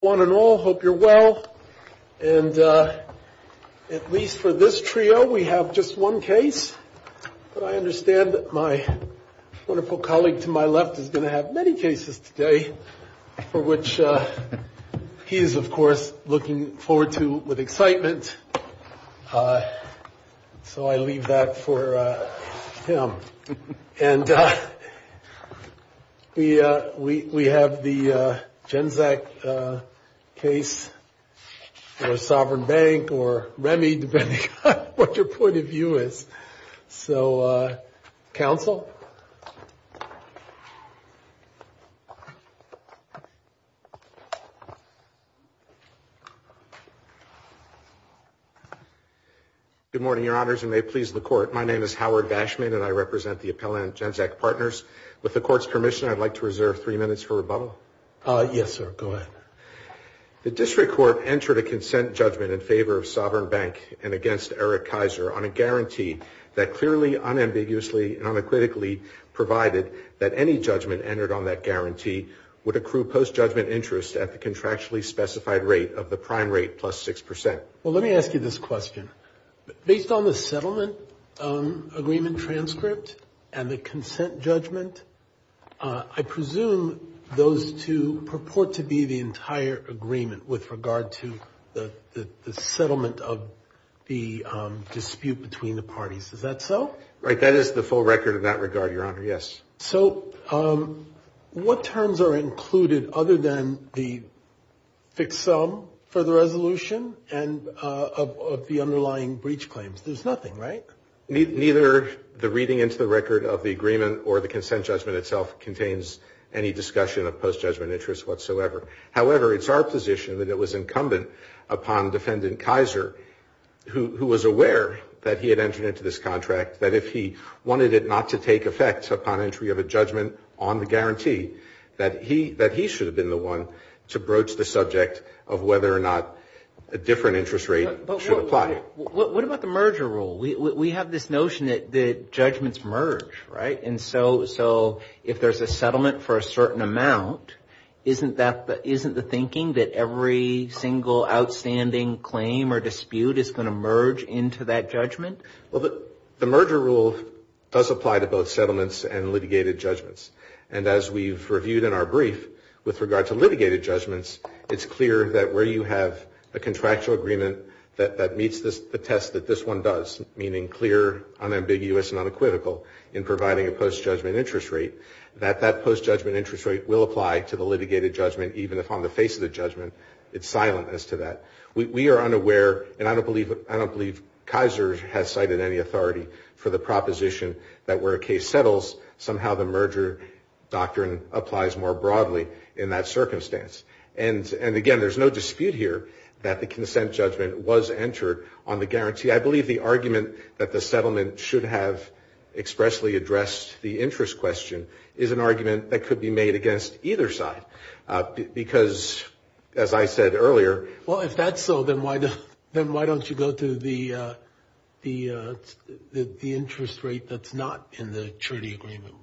One and all hope you're well. And at least for this trio, we have just one case. But I understand that my wonderful colleague to my left is going to have many cases today for which he is, of course, looking forward to with excitement. So I leave that for him. And we we have the Genzack case or Sovereign Bank or Remi, depending on what your point of view is. So, counsel. Good morning, Your Honors, and may it please the court. My name is Howard Bashman and I represent the appellant Genzack Partners. With the court's permission, I'd like to reserve three minutes for rebuttal. Yes, sir. Go ahead. The district court entered a consent judgment in favor of Sovereign Bank and against Eric Kaiser on a guarantee that clearly, unambiguously, and unequivocally provided that any judgment entered on that guarantee would accrue post judgment interest at the contractually specified rate of the prime rate plus six percent. Well, let me ask you this question. Based on the settlement agreement transcript and the consent judgment, I presume those two purport to be the entire agreement with regard to the settlement of the dispute between the parties. Is that so? Right. That is the full record in that regard, Your Honor. Yes. So what terms are included other than the fixed sum for the resolution and of the underlying breach claims? There's nothing, right? Neither the reading into the record of the agreement or the consent judgment itself contains any discussion of post judgment interest whatsoever. However, it's our position that it was incumbent upon Defendant Kaiser, who was aware that he had entered into this contract, that if he wanted it not to take effect upon entry of a judgment on the guarantee, that he should have been the one to broach the subject of whether or not a different interest rate should apply. So what about the merger rule? We have this notion that judgments merge, right? And so if there's a settlement for a certain amount, isn't the thinking that every single outstanding claim or dispute is going to merge into that judgment? Well, the merger rule does apply to both settlements and litigated judgments. And as we've reviewed in our brief with regard to litigated judgments, it's clear that where you have a contractual agreement that meets the test that this one does, meaning clear, unambiguous, and unequivocal in providing a post judgment interest rate, that that post judgment interest rate will apply to the litigated judgment even if on the face of the judgment it's silent as to that. We are unaware, and I don't believe Kaiser has cited any authority for the proposition that where a case settles, somehow the merger doctrine applies more broadly in that circumstance. And again, there's no dispute here that the consent judgment was entered on the guarantee. I believe the argument that the settlement should have expressly addressed the interest question is an argument that could be made against either side. Because, as I said earlier... Well, if that's so, then why don't you go to the interest rate that's not in the surety agreement?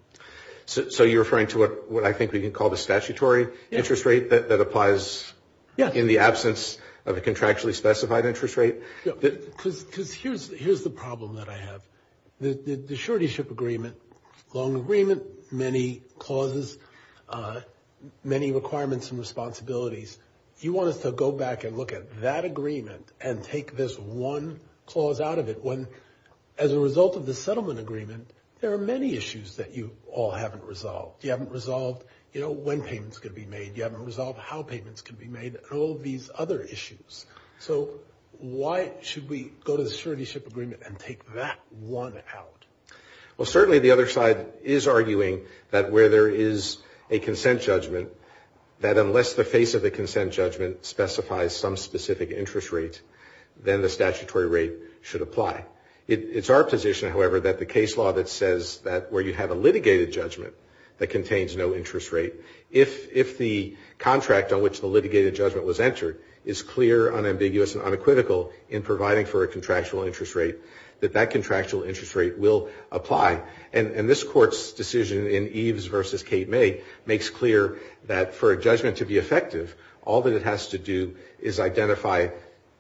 So you're referring to what I think we can call the statutory interest rate that applies in the absence of a contractually specified interest rate? Because here's the problem that I have. The surety ship agreement, long agreement, many clauses, many requirements and responsibilities, you want us to go back and look at that agreement and take this one clause out of it when, as a result of the settlement agreement, there are many issues that you all haven't resolved. You haven't resolved, you know, when payments could be made. You haven't resolved how payments could be made and all of these other issues. So why should we go to the surety ship agreement and take that one out? Well, certainly the other side is arguing that where there is a consent judgment, that unless the face of the consent judgment specifies some specific interest rate, then the statutory rate should apply. It's our position, however, that the case law that says that where you have a litigated judgment that contains no interest rate, if the contract on which the litigated judgment was entered is clear, unambiguous and unequivocal in providing for a contractual interest rate, that that contractual interest rate will apply. And this Court's decision in Eves v. Kate May makes clear that for a judgment to be effective, all that it has to do is identify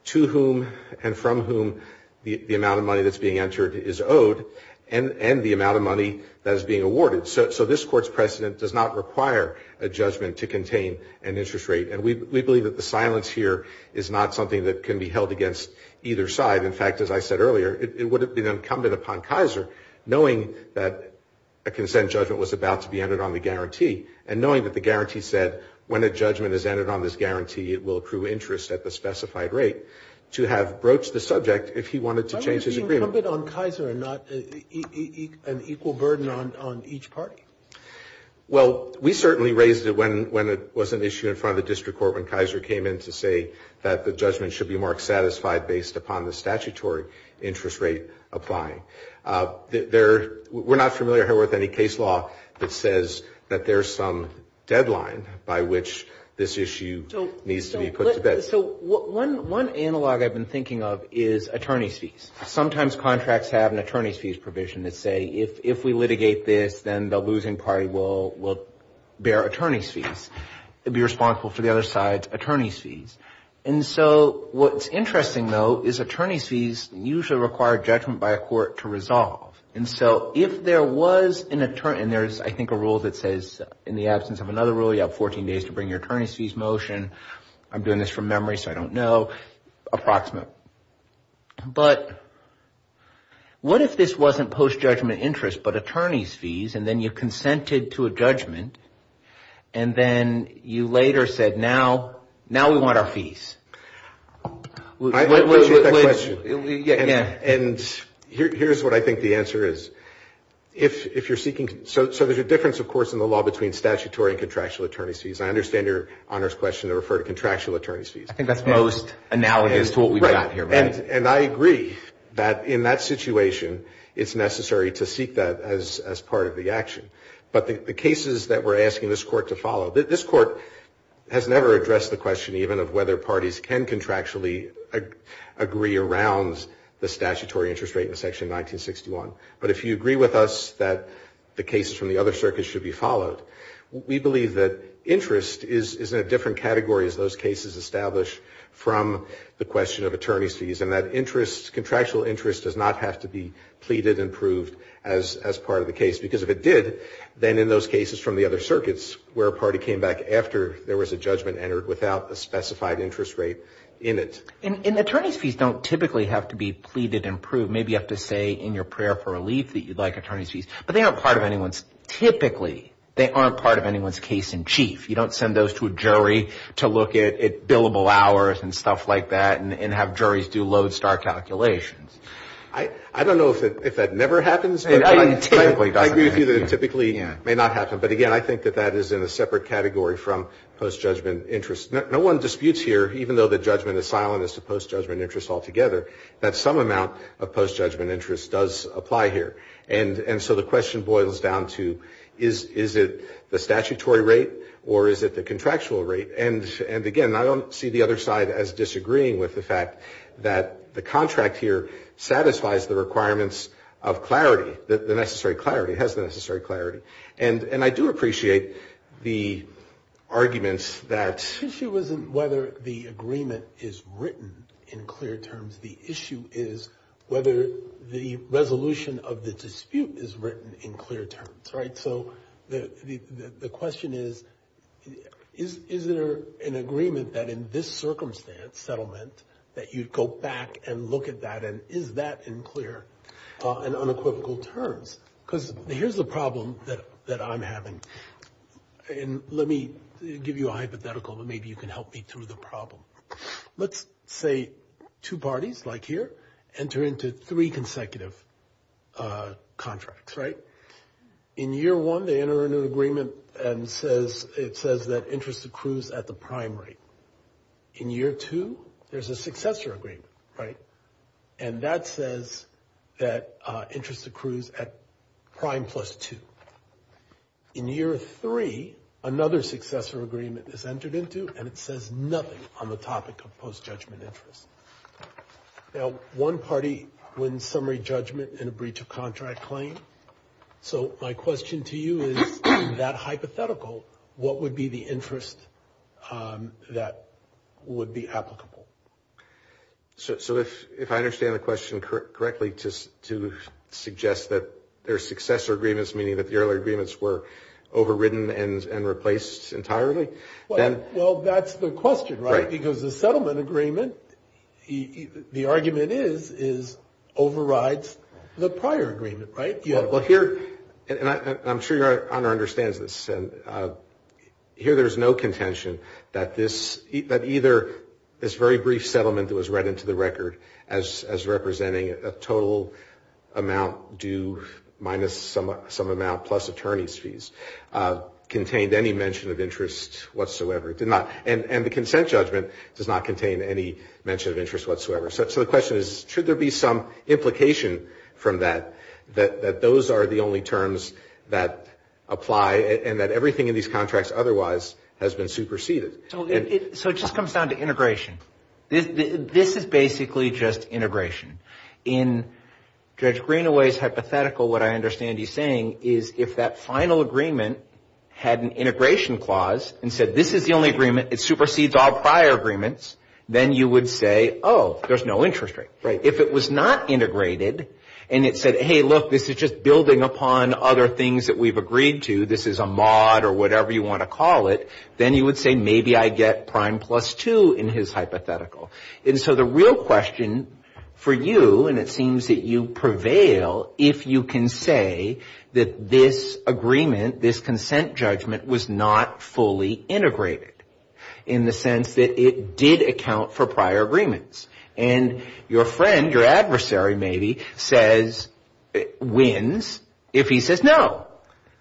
to whom and from whom the amount of money that's being entered is owed and the amount of money that is being awarded. So this Court's precedent does not require a judgment to contain an interest rate. And we believe that the silence here is not something that can be held against either side. In fact, as I said earlier, it would have been incumbent upon Kaiser, knowing that a consent judgment was about to be entered on the guarantee, and knowing that the guarantee said when a judgment is entered on this guarantee, it will accrue interest at the specified rate, to have broached the subject if he wanted to change his agreement. Is it incumbent on Kaiser and not an equal burden on each party? Well, we certainly raised it when it was an issue in front of the District Court when Kaiser came in to say that the judgment should be marked satisfied based upon the statutory interest rate applying. We're not familiar here with any case law that says that there's some deadline by which this issue needs to be put to bed. So one analog I've been thinking of is attorney's fees. Sometimes contracts have an attorney's fees provision that say if we litigate this, then the losing party will bear attorney's fees and be responsible for the other side's attorney's fees. And so what's interesting, though, is attorney's fees usually require judgment by a court to resolve. And so if there was an attorney, and there's, I think, a rule that says in the absence of another rule, you have 14 days to bring your attorney's fees motion. I'm doing this from memory, so I don't know. Approximate. But what if this wasn't post-judgment interest but attorney's fees, and then you consented to a judgment, and then you later said, now we want our fees? I agree with that question. Yeah. And here's what I think the answer is. So there's a difference, of course, in the law between statutory and contractual attorney's fees. I understand your honors question to refer to contractual attorney's fees. I think that's most analogous to what we've got here. Right. And I agree that in that situation it's necessary to seek that as part of the action. But the cases that we're asking this court to follow, this court has never addressed the question even of whether parties can contractually agree around the statutory interest rate in Section 1961. But if you agree with us that the cases from the other circuits should be followed, we believe that interest is in a different category as those cases establish from the question of attorney's fees, and that contractual interest does not have to be pleaded and proved as part of the case. Because if it did, then in those cases from the other circuits, where a party came back after there was a judgment entered without a specified interest rate in it. And attorney's fees don't typically have to be pleaded and proved. Maybe you have to say in your prayer for relief that you'd like attorney's fees. But they aren't part of anyone's, typically, they aren't part of anyone's case in chief. You don't send those to a jury to look at billable hours and stuff like that and have juries do lodestar calculations. I don't know if that never happens. I agree with you that it typically may not happen. But, again, I think that that is in a separate category from post-judgment interest. No one disputes here, even though the judgment is silent as to post-judgment interest altogether, that some amount of post-judgment interest does apply here. And so the question boils down to, is it the statutory rate or is it the contractual rate? And, again, I don't see the other side as disagreeing with the fact that the contract here satisfies the requirements of clarity, the necessary clarity, has the necessary clarity. And I do appreciate the arguments that... The issue is whether the resolution of the dispute is written in clear terms, right? So the question is, is there an agreement that in this circumstance, settlement, that you'd go back and look at that and is that in clear and unequivocal terms? Because here's the problem that I'm having. And let me give you a hypothetical, and maybe you can help me through the problem. Let's say two parties, like here, enter into three consecutive contracts, right? In year one, they enter into an agreement and it says that interest accrues at the prime rate. In year two, there's a successor agreement, right? And that says that interest accrues at prime plus two. In year three, another successor agreement is entered into and it says nothing on the topic of post-judgment interest. Now, one party wins summary judgment in a breach of contract claim. So my question to you is, that hypothetical, what would be the interest that would be applicable? So if I understand the question correctly to suggest that there's successor agreements, meaning that the earlier agreements were overridden and replaced entirely, then... Well, that's the question, right? Because the settlement agreement, the argument is, is overrides the prior agreement, right? Well, here, and I'm sure your honor understands this, and here there's no contention that either this very brief settlement that was read into the record as representing a total amount due minus some amount plus attorney's fees, contained any mention of interest whatsoever. And the consent judgment does not contain any mention of interest whatsoever. So the question is, should there be some implication from that, that those are the only terms that apply and that everything in these contracts otherwise has been superseded? So it just comes down to integration. This is basically just integration. In Judge Greenaway's hypothetical, what I understand he's saying is, if that final agreement had an integration clause and said, this is the only agreement, it supersedes all prior agreements, then you would say, oh, there's no interest rate. If it was not integrated, and it said, hey, look, this is just building upon other things that we've agreed to, this is a mod or whatever you want to call it, then you would say, maybe I get prime plus two in his hypothetical. And so the real question for you, and it seems that you prevail, if you can say that this agreement, this consent judgment, was not fully integrated, in the sense that it did account for prior agreements. And your friend, your adversary maybe, says, wins if he says no.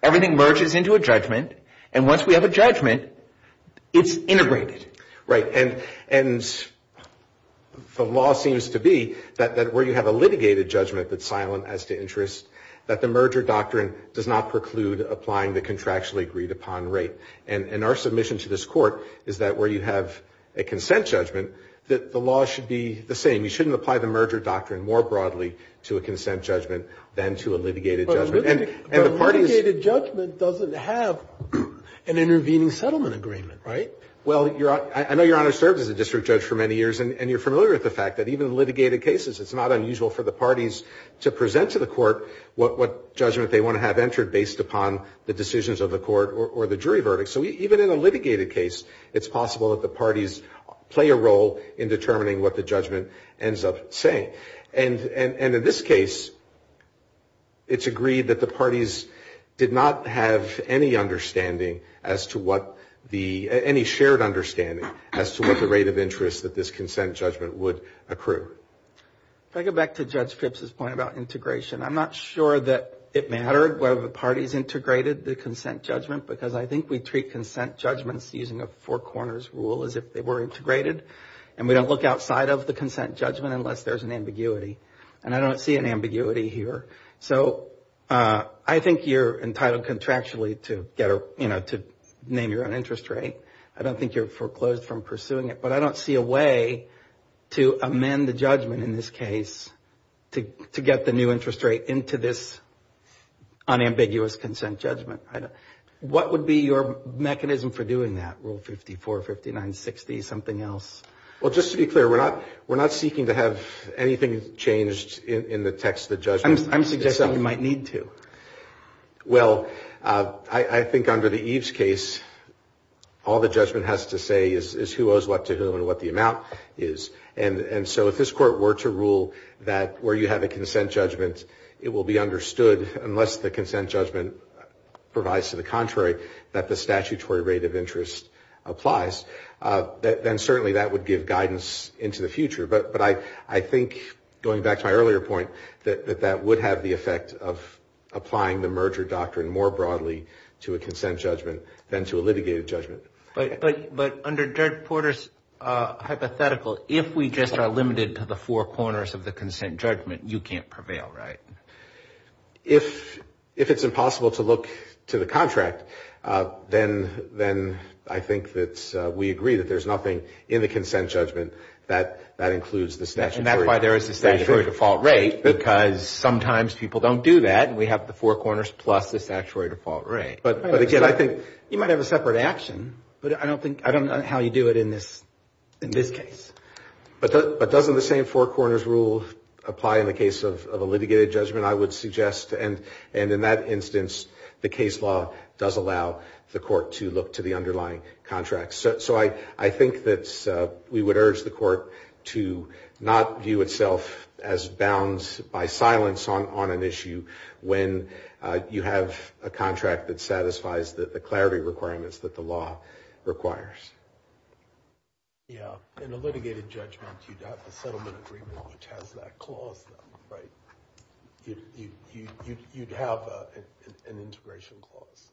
Everything merges into a judgment, and once we have a judgment, it's integrated. Right. And the law seems to be that where you have a litigated judgment that's silent as to interest, that the merger doctrine does not preclude applying the contractually agreed upon rate. And our submission to this court is that where you have a consent judgment, that the law should be the same. You shouldn't apply the merger doctrine more broadly to a consent judgment than to a litigated judgment. But a litigated judgment doesn't have an intervening settlement agreement, right? Well, I know Your Honor served as a district judge for many years, and you're familiar with the fact that even in litigated cases, it's not unusual for the parties to present to the court what judgment they want to have entered based upon the decisions of the court or the jury verdict. So even in a litigated case, it's possible that the parties play a role in determining what the judgment ends up saying. And in this case, it's agreed that the parties did not have any understanding as to what the, any shared understanding as to what the rate of interest that this consent judgment would accrue. If I go back to Judge Phipps's point about integration, I'm not sure that it mattered whether the parties integrated the consent judgment because I think we treat consent judgments using a four corners rule as if they were integrated. And we don't look outside of the consent judgment unless there's an ambiguity. And I don't see an ambiguity here. So I think you're entitled contractually to get a, you know, to name your own interest rate. I don't think you're foreclosed from pursuing it. But I don't see a way to amend the judgment in this case to get the new interest rate into this unambiguous consent judgment. What would be your mechanism for doing that, Rule 54, 59, 60, something else? Well, just to be clear, we're not seeking to have anything changed in the text of the judgment. I'm suggesting you might need to. Well, I think under the Eves case, all the judgment has to say is who owes what to who and what the amount is. And so if this Court were to rule that where you have a consent judgment, it will be understood unless the consent judgment provides to the contrary that the statutory rate of interest applies, then certainly that would give guidance into the future. But I think, going back to my earlier point, that that would have the effect of applying the merger doctrine more broadly to a consent judgment than to a litigated judgment. But under Judge Porter's hypothetical, if we just are limited to the four corners of the consent judgment, you can't prevail, right? If it's impossible to look to the contract, then I think that we agree that there's nothing in the consent judgment that includes the statutory rate. And that's why there is a statutory default rate, because sometimes people don't do that and we have the four corners plus the statutory default rate. You might have a separate action, but I don't know how you do it in this case. But doesn't the same four corners rule apply in the case of a litigated judgment, I would suggest? And in that instance, the case law does allow the Court to look to the underlying contract. So I think that we would urge the Court to not view itself as bound by silence on an issue when you have a contract that satisfies the clarity requirements that the law requires. Yeah. In a litigated judgment, you'd have the settlement agreement, which has that clause, right? You'd have an integration clause.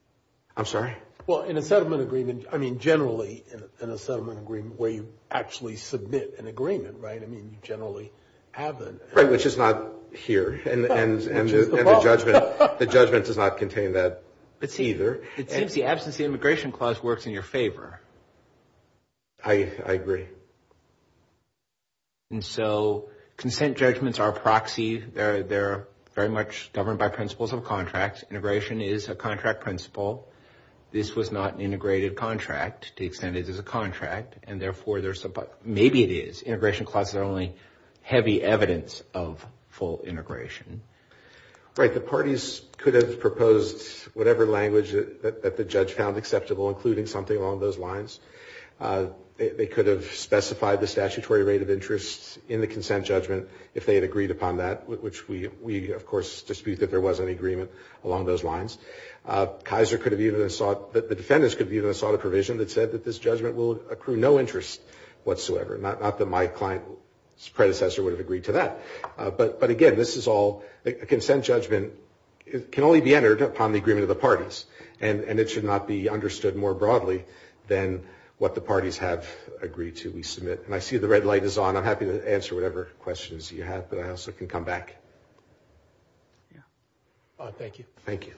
I'm sorry? Well, in a settlement agreement, I mean, generally in a settlement agreement where you actually submit an agreement, right? I mean, you generally have that. Right, which is not here. And the judgment does not contain that either. It seems the absence of the integration clause works in your favor. I agree. And so consent judgments are a proxy. They're very much governed by principles of contracts. Integration is a contract principle. This was not an integrated contract to the extent it is a contract, and therefore, maybe it is. The integration clauses are only heavy evidence of full integration. Right. The parties could have proposed whatever language that the judge found acceptable, including something along those lines. They could have specified the statutory rate of interest in the consent judgment if they had agreed upon that, which we, of course, dispute that there was any agreement along those lines. Kaiser could have even sought – the defendants could have even sought a provision that said that this judgment will accrue no interest whatsoever, not that my client's predecessor would have agreed to that. But, again, this is all – a consent judgment can only be entered upon the agreement of the parties, and it should not be understood more broadly than what the parties have agreed to we submit. And I see the red light is on. I'm happy to answer whatever questions you have, but I also can come back. Thank you. Thank you.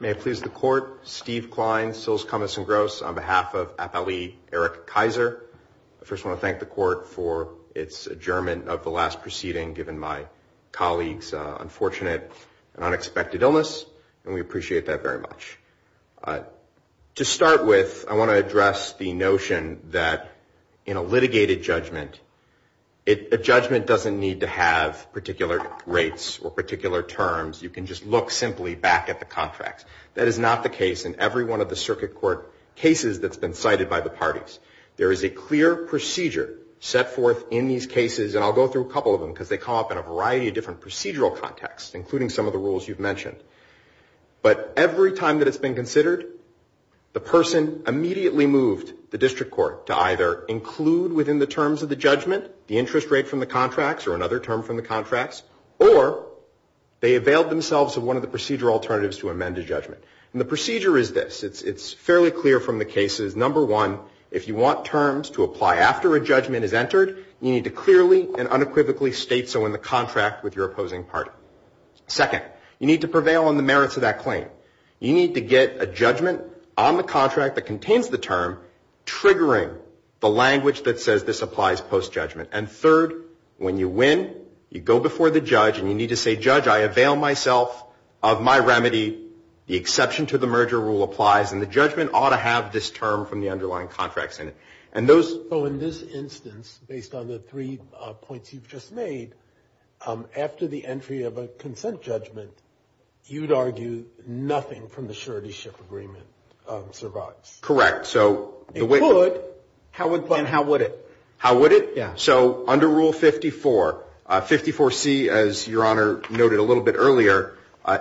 May it please the Court, Steve Klein, Sils, Cummins & Gross, on behalf of Appellee Eric Kaiser. I first want to thank the Court for its adjournment of the last proceeding, given my colleagues' unfortunate and unexpected illness, and we appreciate that very much. To start with, I want to address the notion that in a litigated judgment, a judgment doesn't need to have particular rates or particular terms. You can just look simply back at the contracts. That is not the case in every one of the circuit court cases that's been cited by the parties. There is a clear procedure set forth in these cases, and I'll go through a couple of them because they come up in a variety of different procedural contexts, including some of the rules you've mentioned. But every time that it's been considered, the person immediately moved the district court to either include within the terms of the judgment the interest rate from the contracts or another term from the contracts, or they availed themselves of one of the procedural alternatives to amend a judgment. And the procedure is this. It's fairly clear from the cases. Number one, if you want terms to apply after a judgment is entered, you need to clearly and unequivocally state so in the contract with your opposing party. Second, you need to prevail on the merits of that claim. You need to get a judgment on the contract that contains the term triggering the language that says this applies post-judgment. And third, when you win, you go before the judge, and you need to say, Judge, I avail myself of my remedy. The exception to the merger rule applies, and the judgment ought to have this term from the underlying contracts in it. So in this instance, based on the three points you've just made, after the entry of a consent judgment, you'd argue nothing from the surety ship agreement survives. Correct. It could, but then how would it? How would it? Yeah. So under Rule 54, 54C, as Your Honor noted a little bit earlier,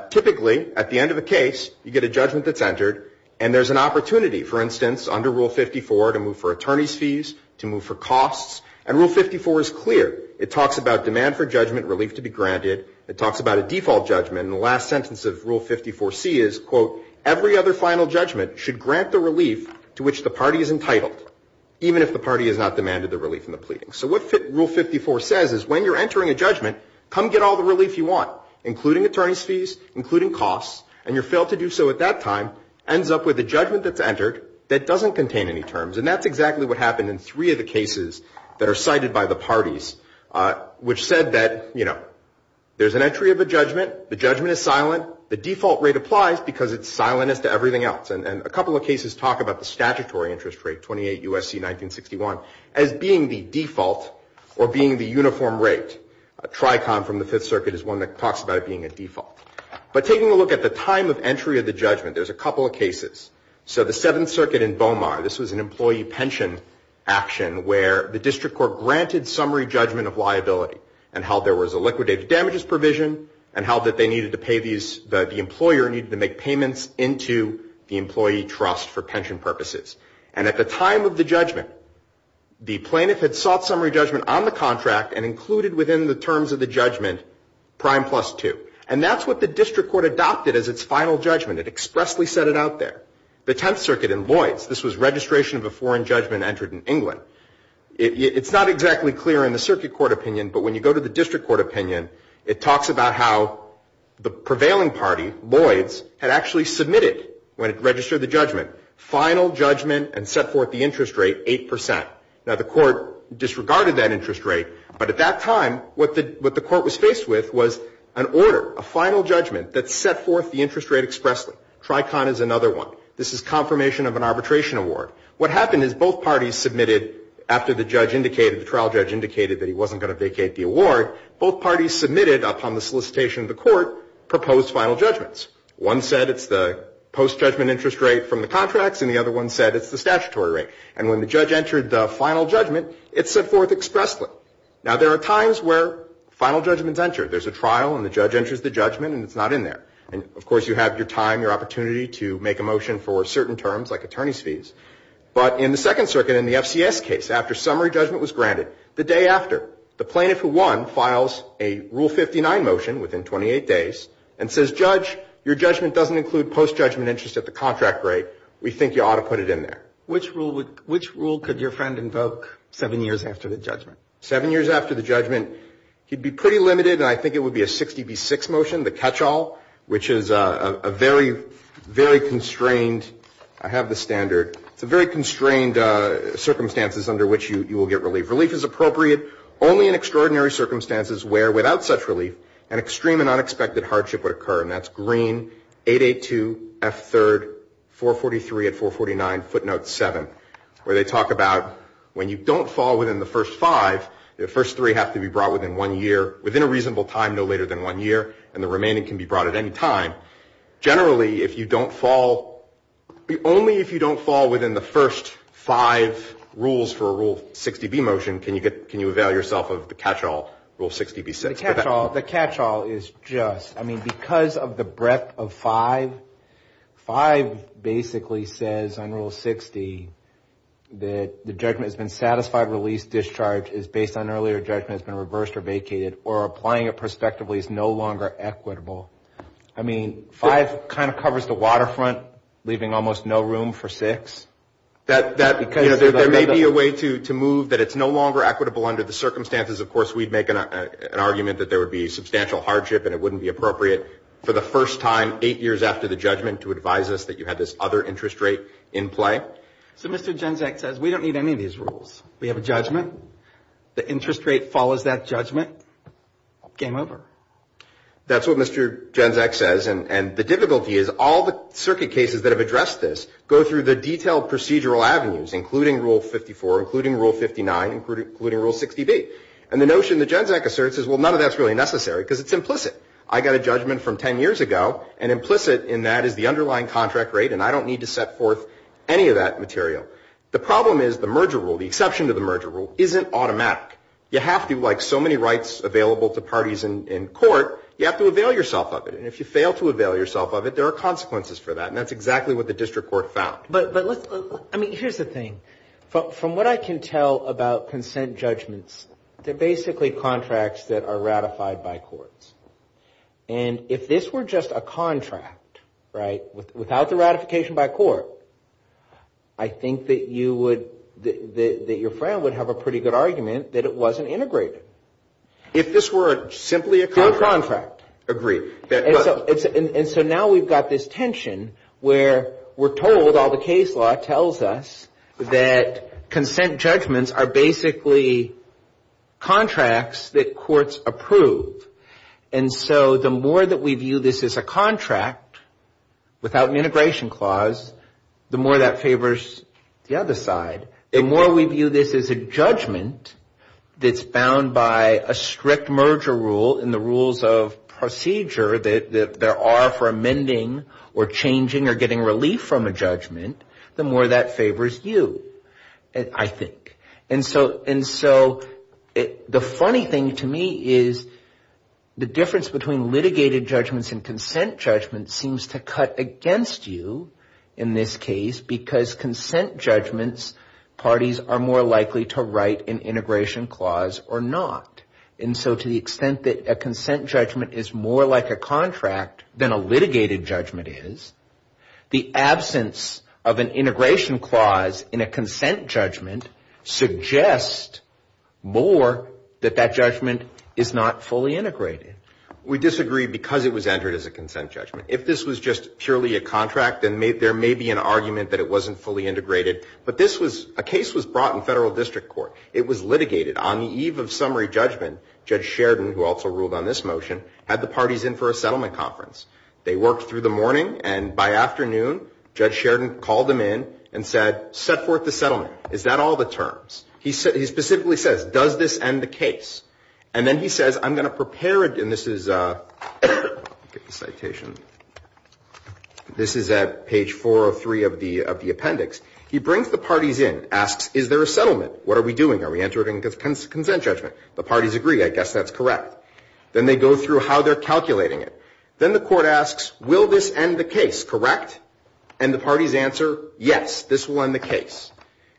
typically at the end of a case, you get a judgment that's entered, and there's an opportunity, for instance, under Rule 54, to move for attorney's fees, to move for costs. And Rule 54 is clear. It talks about demand for judgment, relief to be granted. It talks about a default judgment. And the last sentence of Rule 54C is, quote, every other final judgment should grant the relief to which the party is entitled, even if the party has not demanded the relief in the pleading. So what Rule 54 says is when you're entering a judgment, come get all the relief you want, including attorney's fees, including costs, and you're failed to do so at that time, ends up with a judgment that's entered that doesn't contain any terms. And that's exactly what happened in three of the cases that are cited by the parties, which said that, you know, there's an entry of a judgment. The judgment is silent. The default rate applies because it's silent as to everything else. And a couple of cases talk about the statutory interest rate, 28 U.S.C. 1961, as being the default or being the uniform rate. A tricon from the Fifth Circuit is one that talks about it being a default. But taking a look at the time of entry of the judgment, there's a couple of cases. So the Seventh Circuit in Bomar, this was an employee pension action where the district court granted summary judgment of liability and held there was a liquidated damages provision and held that they needed to pay these, that the employer needed to make payments into the employee trust for pension purposes. And at the time of the judgment, the plaintiff had sought summary judgment on the contract and included within the terms of the judgment prime plus two. And that's what the district court adopted as its final judgment. It expressly set it out there. The Tenth Circuit in Lloyds, this was registration of a foreign judgment entered in England. It's not exactly clear in the circuit court opinion, but when you go to the district court opinion, it talks about how the prevailing party, Lloyds, had actually submitted when it registered the judgment, final judgment and set forth the interest rate, 8%. Now the court disregarded that interest rate, but at that time what the court was faced with was an order, a final judgment that set forth the interest rate expressly. Tricon is another one. This is confirmation of an arbitration award. What happened is both parties submitted after the judge indicated, the trial judge indicated that he wasn't going to vacate the award, both parties submitted upon the solicitation of the court proposed final judgments. One said it's the post-judgment interest rate from the contracts and the other one said it's the statutory rate. And when the judge entered the final judgment, it set forth expressly. Now there are times where final judgments enter. There's a trial and the judge enters the judgment and it's not in there. And of course you have your time, your opportunity, to make a motion for certain terms like attorney's fees. But in the Second Circuit in the FCS case, after summary judgment was granted, the day after, the plaintiff who won files a Rule 59 motion within 28 days and says, Judge, your judgment doesn't include post-judgment interest at the contract rate. We think you ought to put it in there. Which rule could your friend invoke seven years after the judgment? Seven years after the judgment, he'd be pretty limited, and I think it would be a 60 v. 6 motion, the catch-all, which is a very, very constrained, I have the standard, it's a very constrained circumstances under which you will get relief. Relief is appropriate only in extraordinary circumstances where, without such relief, an extreme and unexpected hardship would occur. And that's green, 882, F3rd, 443 at 449, footnote 7, where they talk about when you don't fall within the first five, the first three have to be brought within one year, within a reasonable time no later than one year, and the remaining can be brought at any time. Generally, if you don't fall, only if you don't fall within the first five rules for a rule 60 v. motion, can you avail yourself of the catch-all, rule 60 v. 6. The catch-all is just, I mean, because of the breadth of five, five basically says on rule 60 that the judgment has been satisfied, release, discharge is based on earlier judgment, it's been reversed or vacated, or applying it prospectively is no longer equitable. I mean, five kind of covers the waterfront, leaving almost no room for six. There may be a way to move that it's no longer equitable under the circumstances. Of course, we'd make an argument that there would be substantial hardship and it wouldn't be appropriate for the first time, eight years after the judgment, to advise us that you had this other interest rate in play. So Mr. Genzack says, we don't need any of these rules. We have a judgment. The interest rate follows that judgment. Game over. That's what Mr. Genzack says, and the difficulty is all the circuit cases that have addressed this go through the detailed procedural avenues, including rule 54, including rule 59, including rule 60 v. And the notion that Genzack asserts is, well, none of that's really necessary, because it's implicit. I got a judgment from 10 years ago, and implicit in that is the underlying contract rate, and I don't need to set forth any of that material. The problem is the merger rule, the exception to the merger rule, isn't automatic. You have to, like so many rights available to parties in court, you have to avail yourself of it, and if you fail to avail yourself of it, there are consequences for that, and that's exactly what the district court found. But, I mean, here's the thing. From what I can tell about consent judgments, they're basically contracts that are ratified by courts, and if this were just a contract, right, without the ratification by court, I think that your friend would have a pretty good argument that it wasn't integrated. If this were simply a contract. A contract. Agreed. And so now we've got this tension where we're told all the case law tells us that consent judgments are basically contracts that courts approve, and so the more that we view this as a contract without an integration clause, the more that favors the other side. The more we view this as a judgment that's bound by a strict merger rule and the rules of procedure that there are for amending or changing or getting relief from a judgment, the more that favors you, I think. And so the funny thing to me is the difference between litigated judgments and consent judgments seems to cut against you in this case because consent judgments parties are more likely to write an integration clause or not. And so to the extent that a consent judgment is more like a contract than a litigated judgment is, the absence of an integration clause in a consent judgment suggests more that that judgment is not fully integrated. We disagree because it was entered as a consent judgment. If this was just purely a contract, then there may be an argument that it wasn't fully integrated. But a case was brought in federal district court. It was litigated on the eve of summary judgment. Judge Sheridan, who also ruled on this motion, had the parties in for a settlement conference. They worked through the morning, and by afternoon, Judge Sheridan called them in and said, set forth the settlement. Is that all the terms? He specifically says, does this end the case? And then he says, I'm going to prepare it. And this is at page 403 of the appendix. He brings the parties in, asks, is there a settlement? What are we doing? Are we entering a consent judgment? The parties agree. I guess that's correct. Then they go through how they're calculating it. Then the court asks, will this end the case, correct? And the parties answer, yes, this will end the case.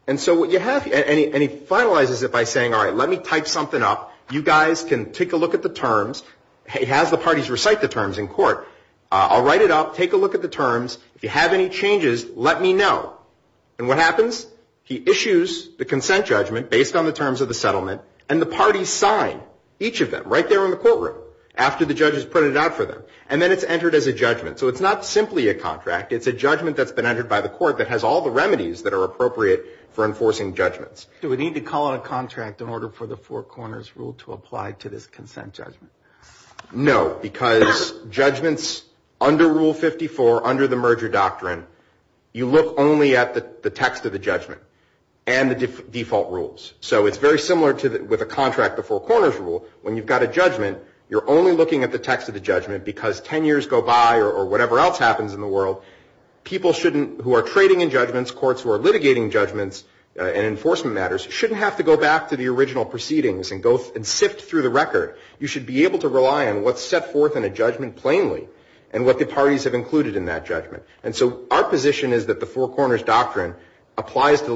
And so what you have, and he finalizes it by saying, all right, let me type something up. You guys can take a look at the terms. He has the parties recite the terms in court. I'll write it up. Take a look at the terms. If you have any changes, let me know. And what happens? He issues the consent judgment based on the terms of the settlement, and the parties sign each of them right there in the courtroom after the judges printed it out for them. And then it's entered as a judgment. So it's not simply a contract. It's a judgment that's been entered by the court that has all the remedies that are appropriate for enforcing judgments. Do we need to call it a contract in order for the Four Corners Rule to apply to this consent judgment? No, because judgments under Rule 54, under the merger doctrine, you look only at the text of the judgment and the default rules. So it's very similar with a contract, the Four Corners Rule. When you've got a judgment, you're only looking at the text of the judgment because 10 years go by or whatever else happens in the world, people who are trading in judgments, courts who are litigating judgments and enforcement matters shouldn't have to go back to the original proceedings and sift through the record. You should be able to rely on what's set forth in a judgment plainly and what the parties have included in that judgment. And so our position is that the Four Corners Doctrine applies to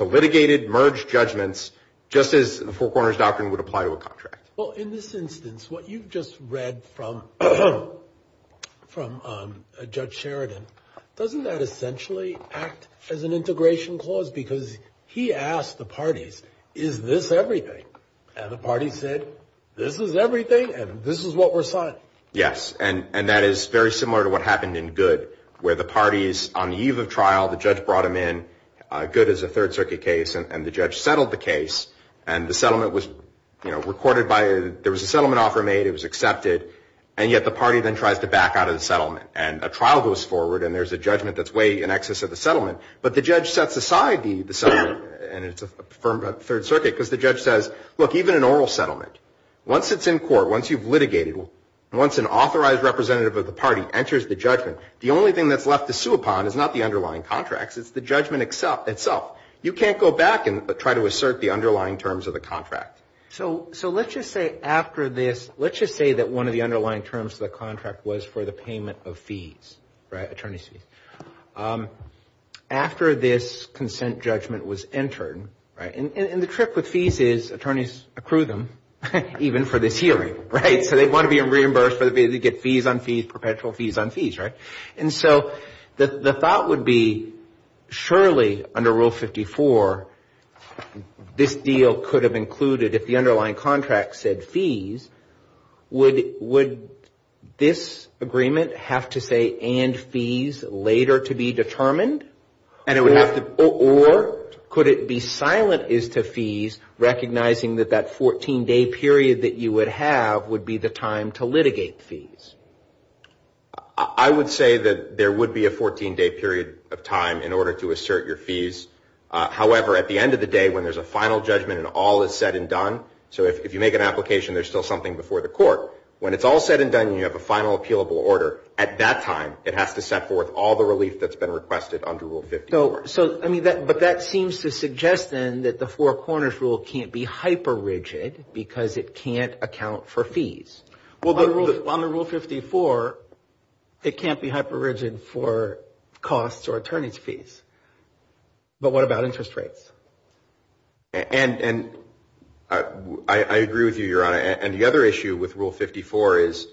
litigated, merged judgments just as the Four Corners Doctrine would apply to a contract. Well, in this instance, what you've just read from Judge Sheridan, doesn't that essentially act as an integration clause? Because he asked the parties, is this everything? And the parties said, this is everything and this is what we're signing. Yes, and that is very similar to what happened in Goode, where the parties, on the eve of trial, the judge brought him in, Goode is a Third Circuit case, and the judge settled the case, and the settlement was recorded by, there was a settlement offer made, it was accepted, and yet the party then tries to back out of the settlement. And a trial goes forward and there's a judgment that's way in excess of the settlement, but the judge sets aside the settlement, and it's a firm Third Circuit, because the judge says, look, even an oral settlement, once it's in court, once you've litigated, once an authorized representative of the party enters the judgment, the only thing that's left to sue upon is not the underlying contracts, it's the judgment itself. You can't go back and try to assert the underlying terms of the contract. So let's just say after this, let's just say that one of the underlying terms of the contract was for the payment of fees, right, attorney's fees. After this consent judgment was entered, right, and the trick with fees is attorneys accrue them, even for this hearing, right? So they want to be reimbursed, they get fees on fees, perpetual fees on fees, right? And so the thought would be, surely under Rule 54, this deal could have included, if the underlying contract said fees, would this agreement have to say and fees later to be determined? Or could it be silent as to fees, recognizing that that 14-day period that you would have would be the time to litigate fees? I would say that there would be a 14-day period of time in order to assert your fees. However, at the end of the day, when there's a final judgment and all is said and done, so if you make an application there's still something before the court, when it's all said and done and you have a final appealable order, at that time it has to set forth all the relief that's been requested under Rule 54. So, I mean, but that seems to suggest then that the Four Corners Rule can't be hyper-rigid because it can't account for fees. Well, under Rule 54, it can't be hyper-rigid for costs or attorney's fees. But what about interest rates? And I agree with you, Your Honor, and the other issue with Rule 54 is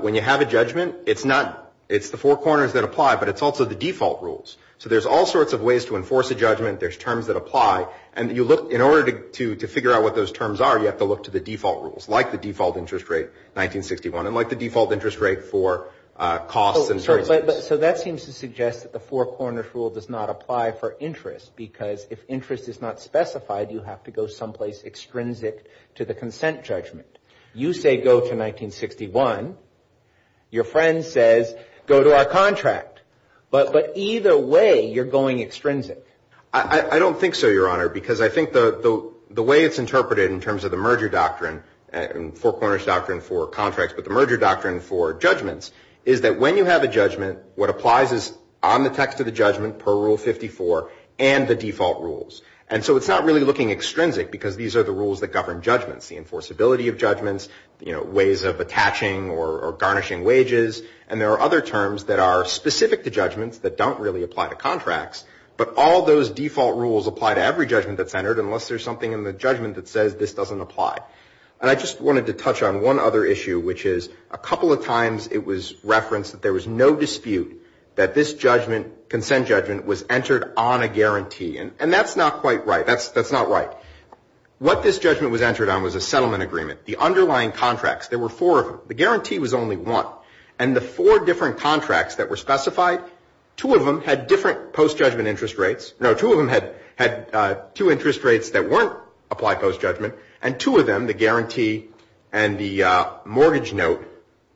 when you have a judgment, it's the Four Corners that apply, but it's also the default rules. So there's all sorts of ways to enforce a judgment, there's terms that apply, and in order to figure out what those terms are, you have to look to the default rules, like the default interest rate, 1961, and like the default interest rate for costs and services. So that seems to suggest that the Four Corners Rule does not apply for interest because if interest is not specified, you have to go someplace extrinsic to the consent judgment. You say go to 1961. Your friend says go to our contract. But either way, you're going extrinsic. I don't think so, Your Honor, because I think the way it's interpreted in terms of the merger doctrine and Four Corners doctrine for contracts but the merger doctrine for judgments is that when you have a judgment, what applies is on the text of the judgment per Rule 54 and the default rules. And so it's not really looking extrinsic because these are the rules that govern judgments, the enforceability of judgments, ways of attaching or garnishing wages, and there are other terms that are specific to judgments that don't really apply to contracts, but all those default rules apply to every judgment that's entered unless there's something in the judgment that says this doesn't apply. And I just wanted to touch on one other issue, which is a couple of times it was referenced that there was no dispute that this judgment, consent judgment, was entered on a guarantee. And that's not quite right. That's not right. What this judgment was entered on was a settlement agreement. The underlying contracts, there were four of them. The guarantee was only one. And the four different contracts that were specified, two of them had different post-judgment interest rates. No, two of them had two interest rates that weren't applied post-judgment, and two of them, the guarantee and the mortgage note,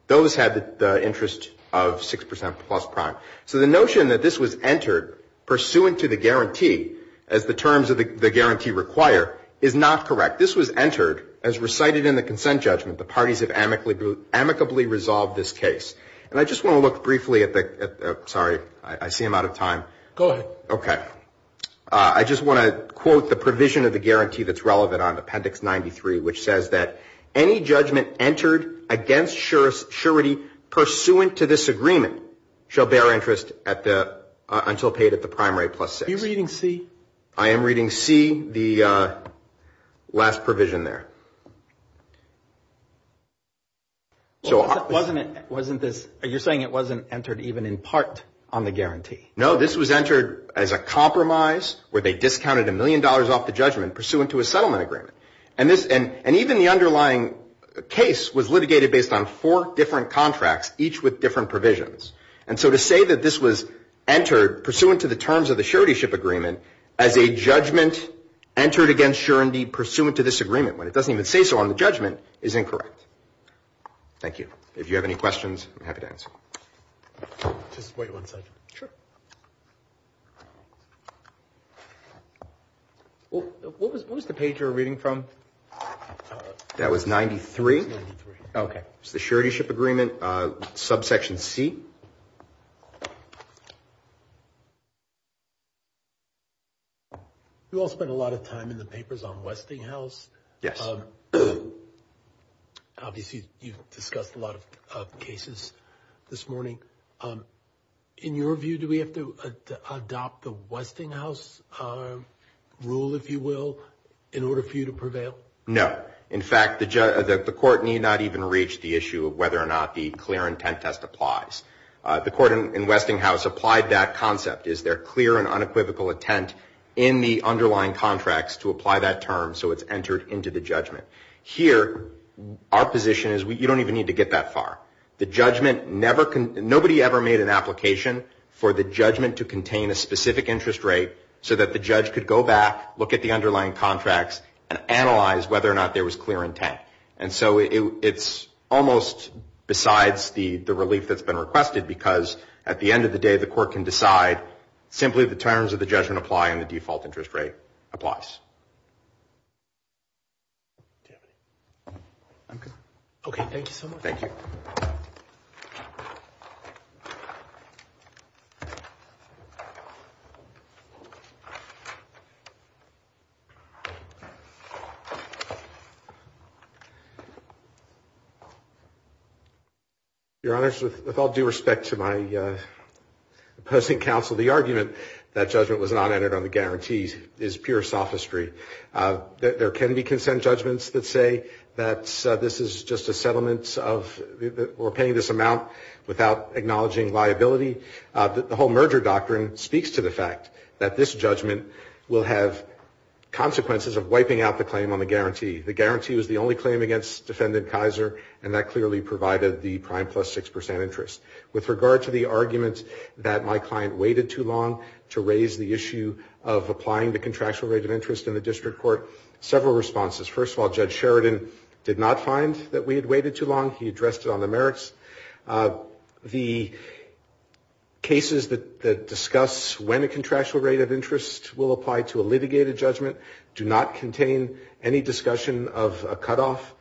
those had the interest of 6% plus prime. So the notion that this was entered pursuant to the guarantee, as the terms of the guarantee require, is not correct. This was entered as recited in the consent judgment. The parties have amicably resolved this case. And I just want to look briefly at the ‑‑ sorry. I see I'm out of time. Go ahead. Okay. I just want to quote the provision of the guarantee that's relevant on Appendix 93, which says that any judgment entered against surety pursuant to this agreement shall bear interest until paid at the prime rate plus 6. Are you reading C? I am reading C, the last provision there. You're saying it wasn't entered even in part on the guarantee. No, this was entered as a compromise where they discounted a million dollars off the judgment pursuant to a settlement agreement. And even the underlying case was litigated based on four different contracts, each with different provisions. And so to say that this was entered pursuant to the terms of the surety agreement as a judgment entered against surety pursuant to this agreement, when it doesn't even say so on the judgment, is incorrect. Thank you. If you have any questions, I'm happy to answer. Just wait one second. Sure. What was the page you were reading from? That was 93. It was 93. Okay. It was the suretyship agreement, subsection C. Thank you. You all spent a lot of time in the papers on Westinghouse. Yes. Obviously, you've discussed a lot of cases this morning. In your view, do we have to adopt the Westinghouse rule, if you will, in order for you to prevail? No. In fact, the court need not even reach the issue of whether or not the clear intent test applies. The court in Westinghouse applied that concept, is there clear and unequivocal intent in the underlying contracts to apply that term so it's entered into the judgment. Here, our position is you don't even need to get that far. Nobody ever made an application for the judgment to contain a specific interest rate so that the judge could go back, look at the underlying contracts, and analyze whether or not there was clear intent. And so it's almost besides the relief that's been requested because at the end of the day, the court can decide simply the terms of the judgment apply and the default interest rate applies. Okay. Thank you so much. Thank you. Your Honor, with all due respect to my opposing counsel, the argument that judgment was not entered on the guarantees is pure sophistry. There can be consent judgments that say that this is just a settlement of interest. We're paying this amount without acknowledging liability. The whole merger doctrine speaks to the fact that this judgment will have consequences of wiping out the claim on the guarantee. The guarantee was the only claim against defendant Kaiser, and that clearly provided the prime plus 6% interest. With regard to the argument that my client waited too long to raise the issue of applying the contractual rate of interest in the district court, several responses. First of all, Judge Sheridan did not find that we had waited too long. He addressed it on the merits. The cases that discuss when a contractual rate of interest will apply to a litigated judgment do not contain any discussion of a cutoff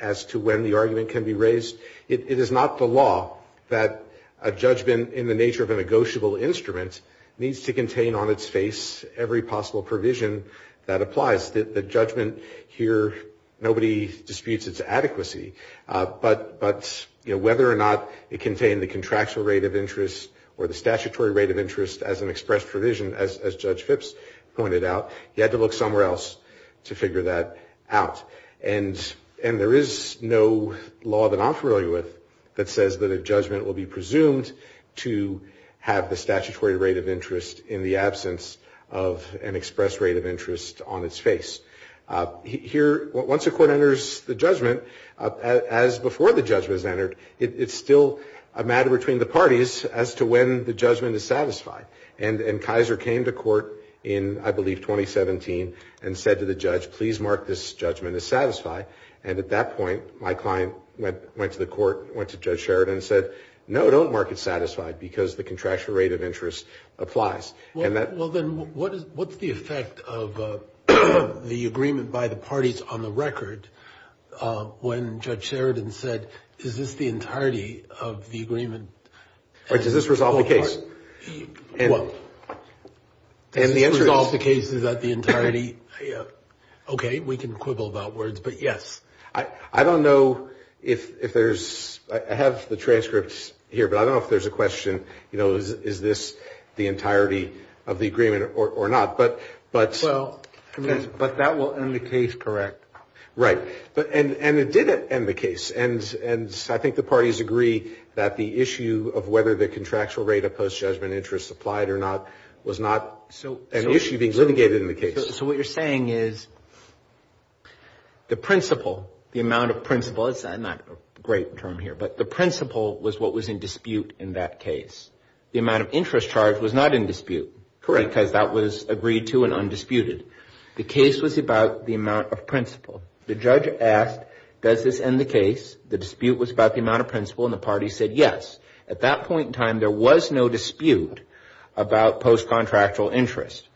as to when the argument can be raised. It is not the law that a judgment in the nature of a negotiable instrument needs to contain on its face every possible provision that applies. The judgment here, nobody disputes its adequacy. But whether or not it contained the contractual rate of interest or the statutory rate of interest as an expressed provision, as Judge Phipps pointed out, he had to look somewhere else to figure that out. And there is no law that I'm familiar with that says that a judgment will be presumed to have the statutory rate of interest in the absence of an expressed rate of interest on its face. Once a court enters the judgment, as before the judgment is entered, it's still a matter between the parties as to when the judgment is satisfied. And Kaiser came to court in, I believe, 2017 and said to the judge, please mark this judgment as satisfied. And at that point, my client went to the court, went to Judge Sheridan and said, no, don't mark it satisfied because the contractual rate of interest applies. Well, then what's the effect of the agreement by the parties on the record when Judge Sheridan said, is this the entirety of the agreement? Does this resolve the case? Well, does this resolve the case? Is that the entirety? Okay, we can quibble about words, but yes. I don't know if there's, I have the transcripts here, but I don't know if there's a question. You know, is this the entirety of the agreement or not? But that will end the case, correct? Right. And it did end the case. And I think the parties agree that the issue of whether the contractual rate of post-judgment interest applied or not was not an issue being litigated in the case. So what you're saying is the principle, the amount of principle, it's not a great term here, but the principle was what was in dispute in that case. The amount of interest charged was not in dispute. Correct. Because that was agreed to and undisputed. The case was about the amount of principle. The judge asked, does this end the case? The dispute was about the amount of principle, and the parties said yes. At that point in time, there was no dispute about post-contractual interest.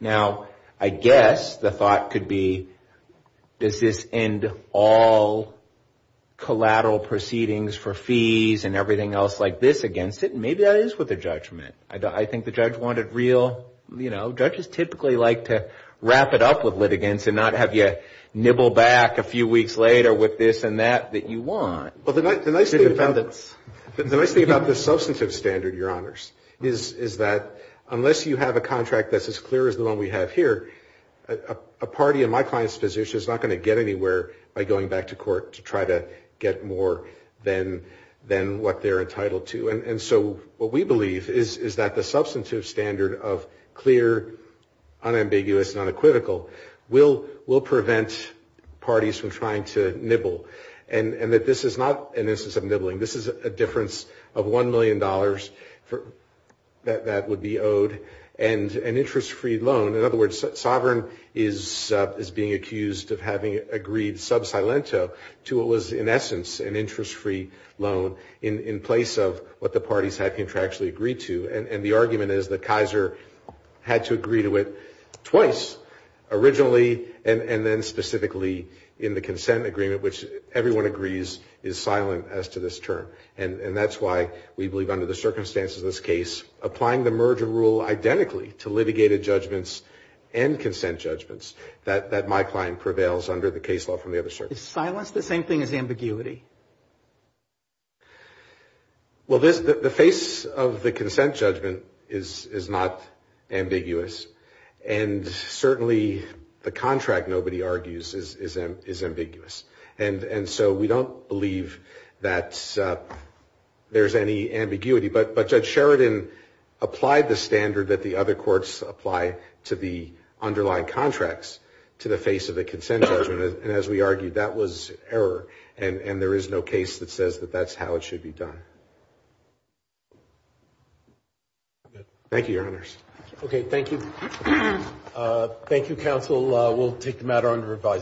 Now, I guess the thought could be, does this end all collateral proceedings for fees and everything else like this against it? Maybe that is worth a judgment. I think the judge wanted real, you know, judges typically like to wrap it up with litigants and not have you nibble back a few weeks later with this and that that you want. Well, the nice thing about this substantive standard, Your Honors, is that unless you have a contract that's as clear as the one we have here, a party in my client's position is not going to get anywhere by going back to court to try to get more than what they're entitled to. And so what we believe is that the substantive standard of clear, unambiguous, and unequivocal will prevent parties from trying to nibble, and that this is not an instance of nibbling. This is a difference of $1 million that would be owed and an interest-free loan. In other words, Sovereign is being accused of having agreed sub silento to what was, in essence, an interest-free loan in place of what the parties had contractually agreed to. And the argument is that Kaiser had to agree to it twice, originally, and then specifically in the consent agreement, which everyone agrees is silent as to this term. And that's why we believe under the circumstances of this case, applying the merger rule identically to litigated judgments and consent judgments, that my client prevails under the case law from the other side. Is silence the same thing as ambiguity? Well, the face of the consent judgment is not ambiguous, and certainly the contract, nobody argues, is ambiguous. And so we don't believe that there's any ambiguity. But Judge Sheridan applied the standard that the other courts apply to the underlying contracts to the face of the consent judgment, and as we argued, that was error. And there is no case that says that that's how it should be done. Thank you, Your Honors. Okay, thank you. Thank you, counsel. We'll take the matter under revising.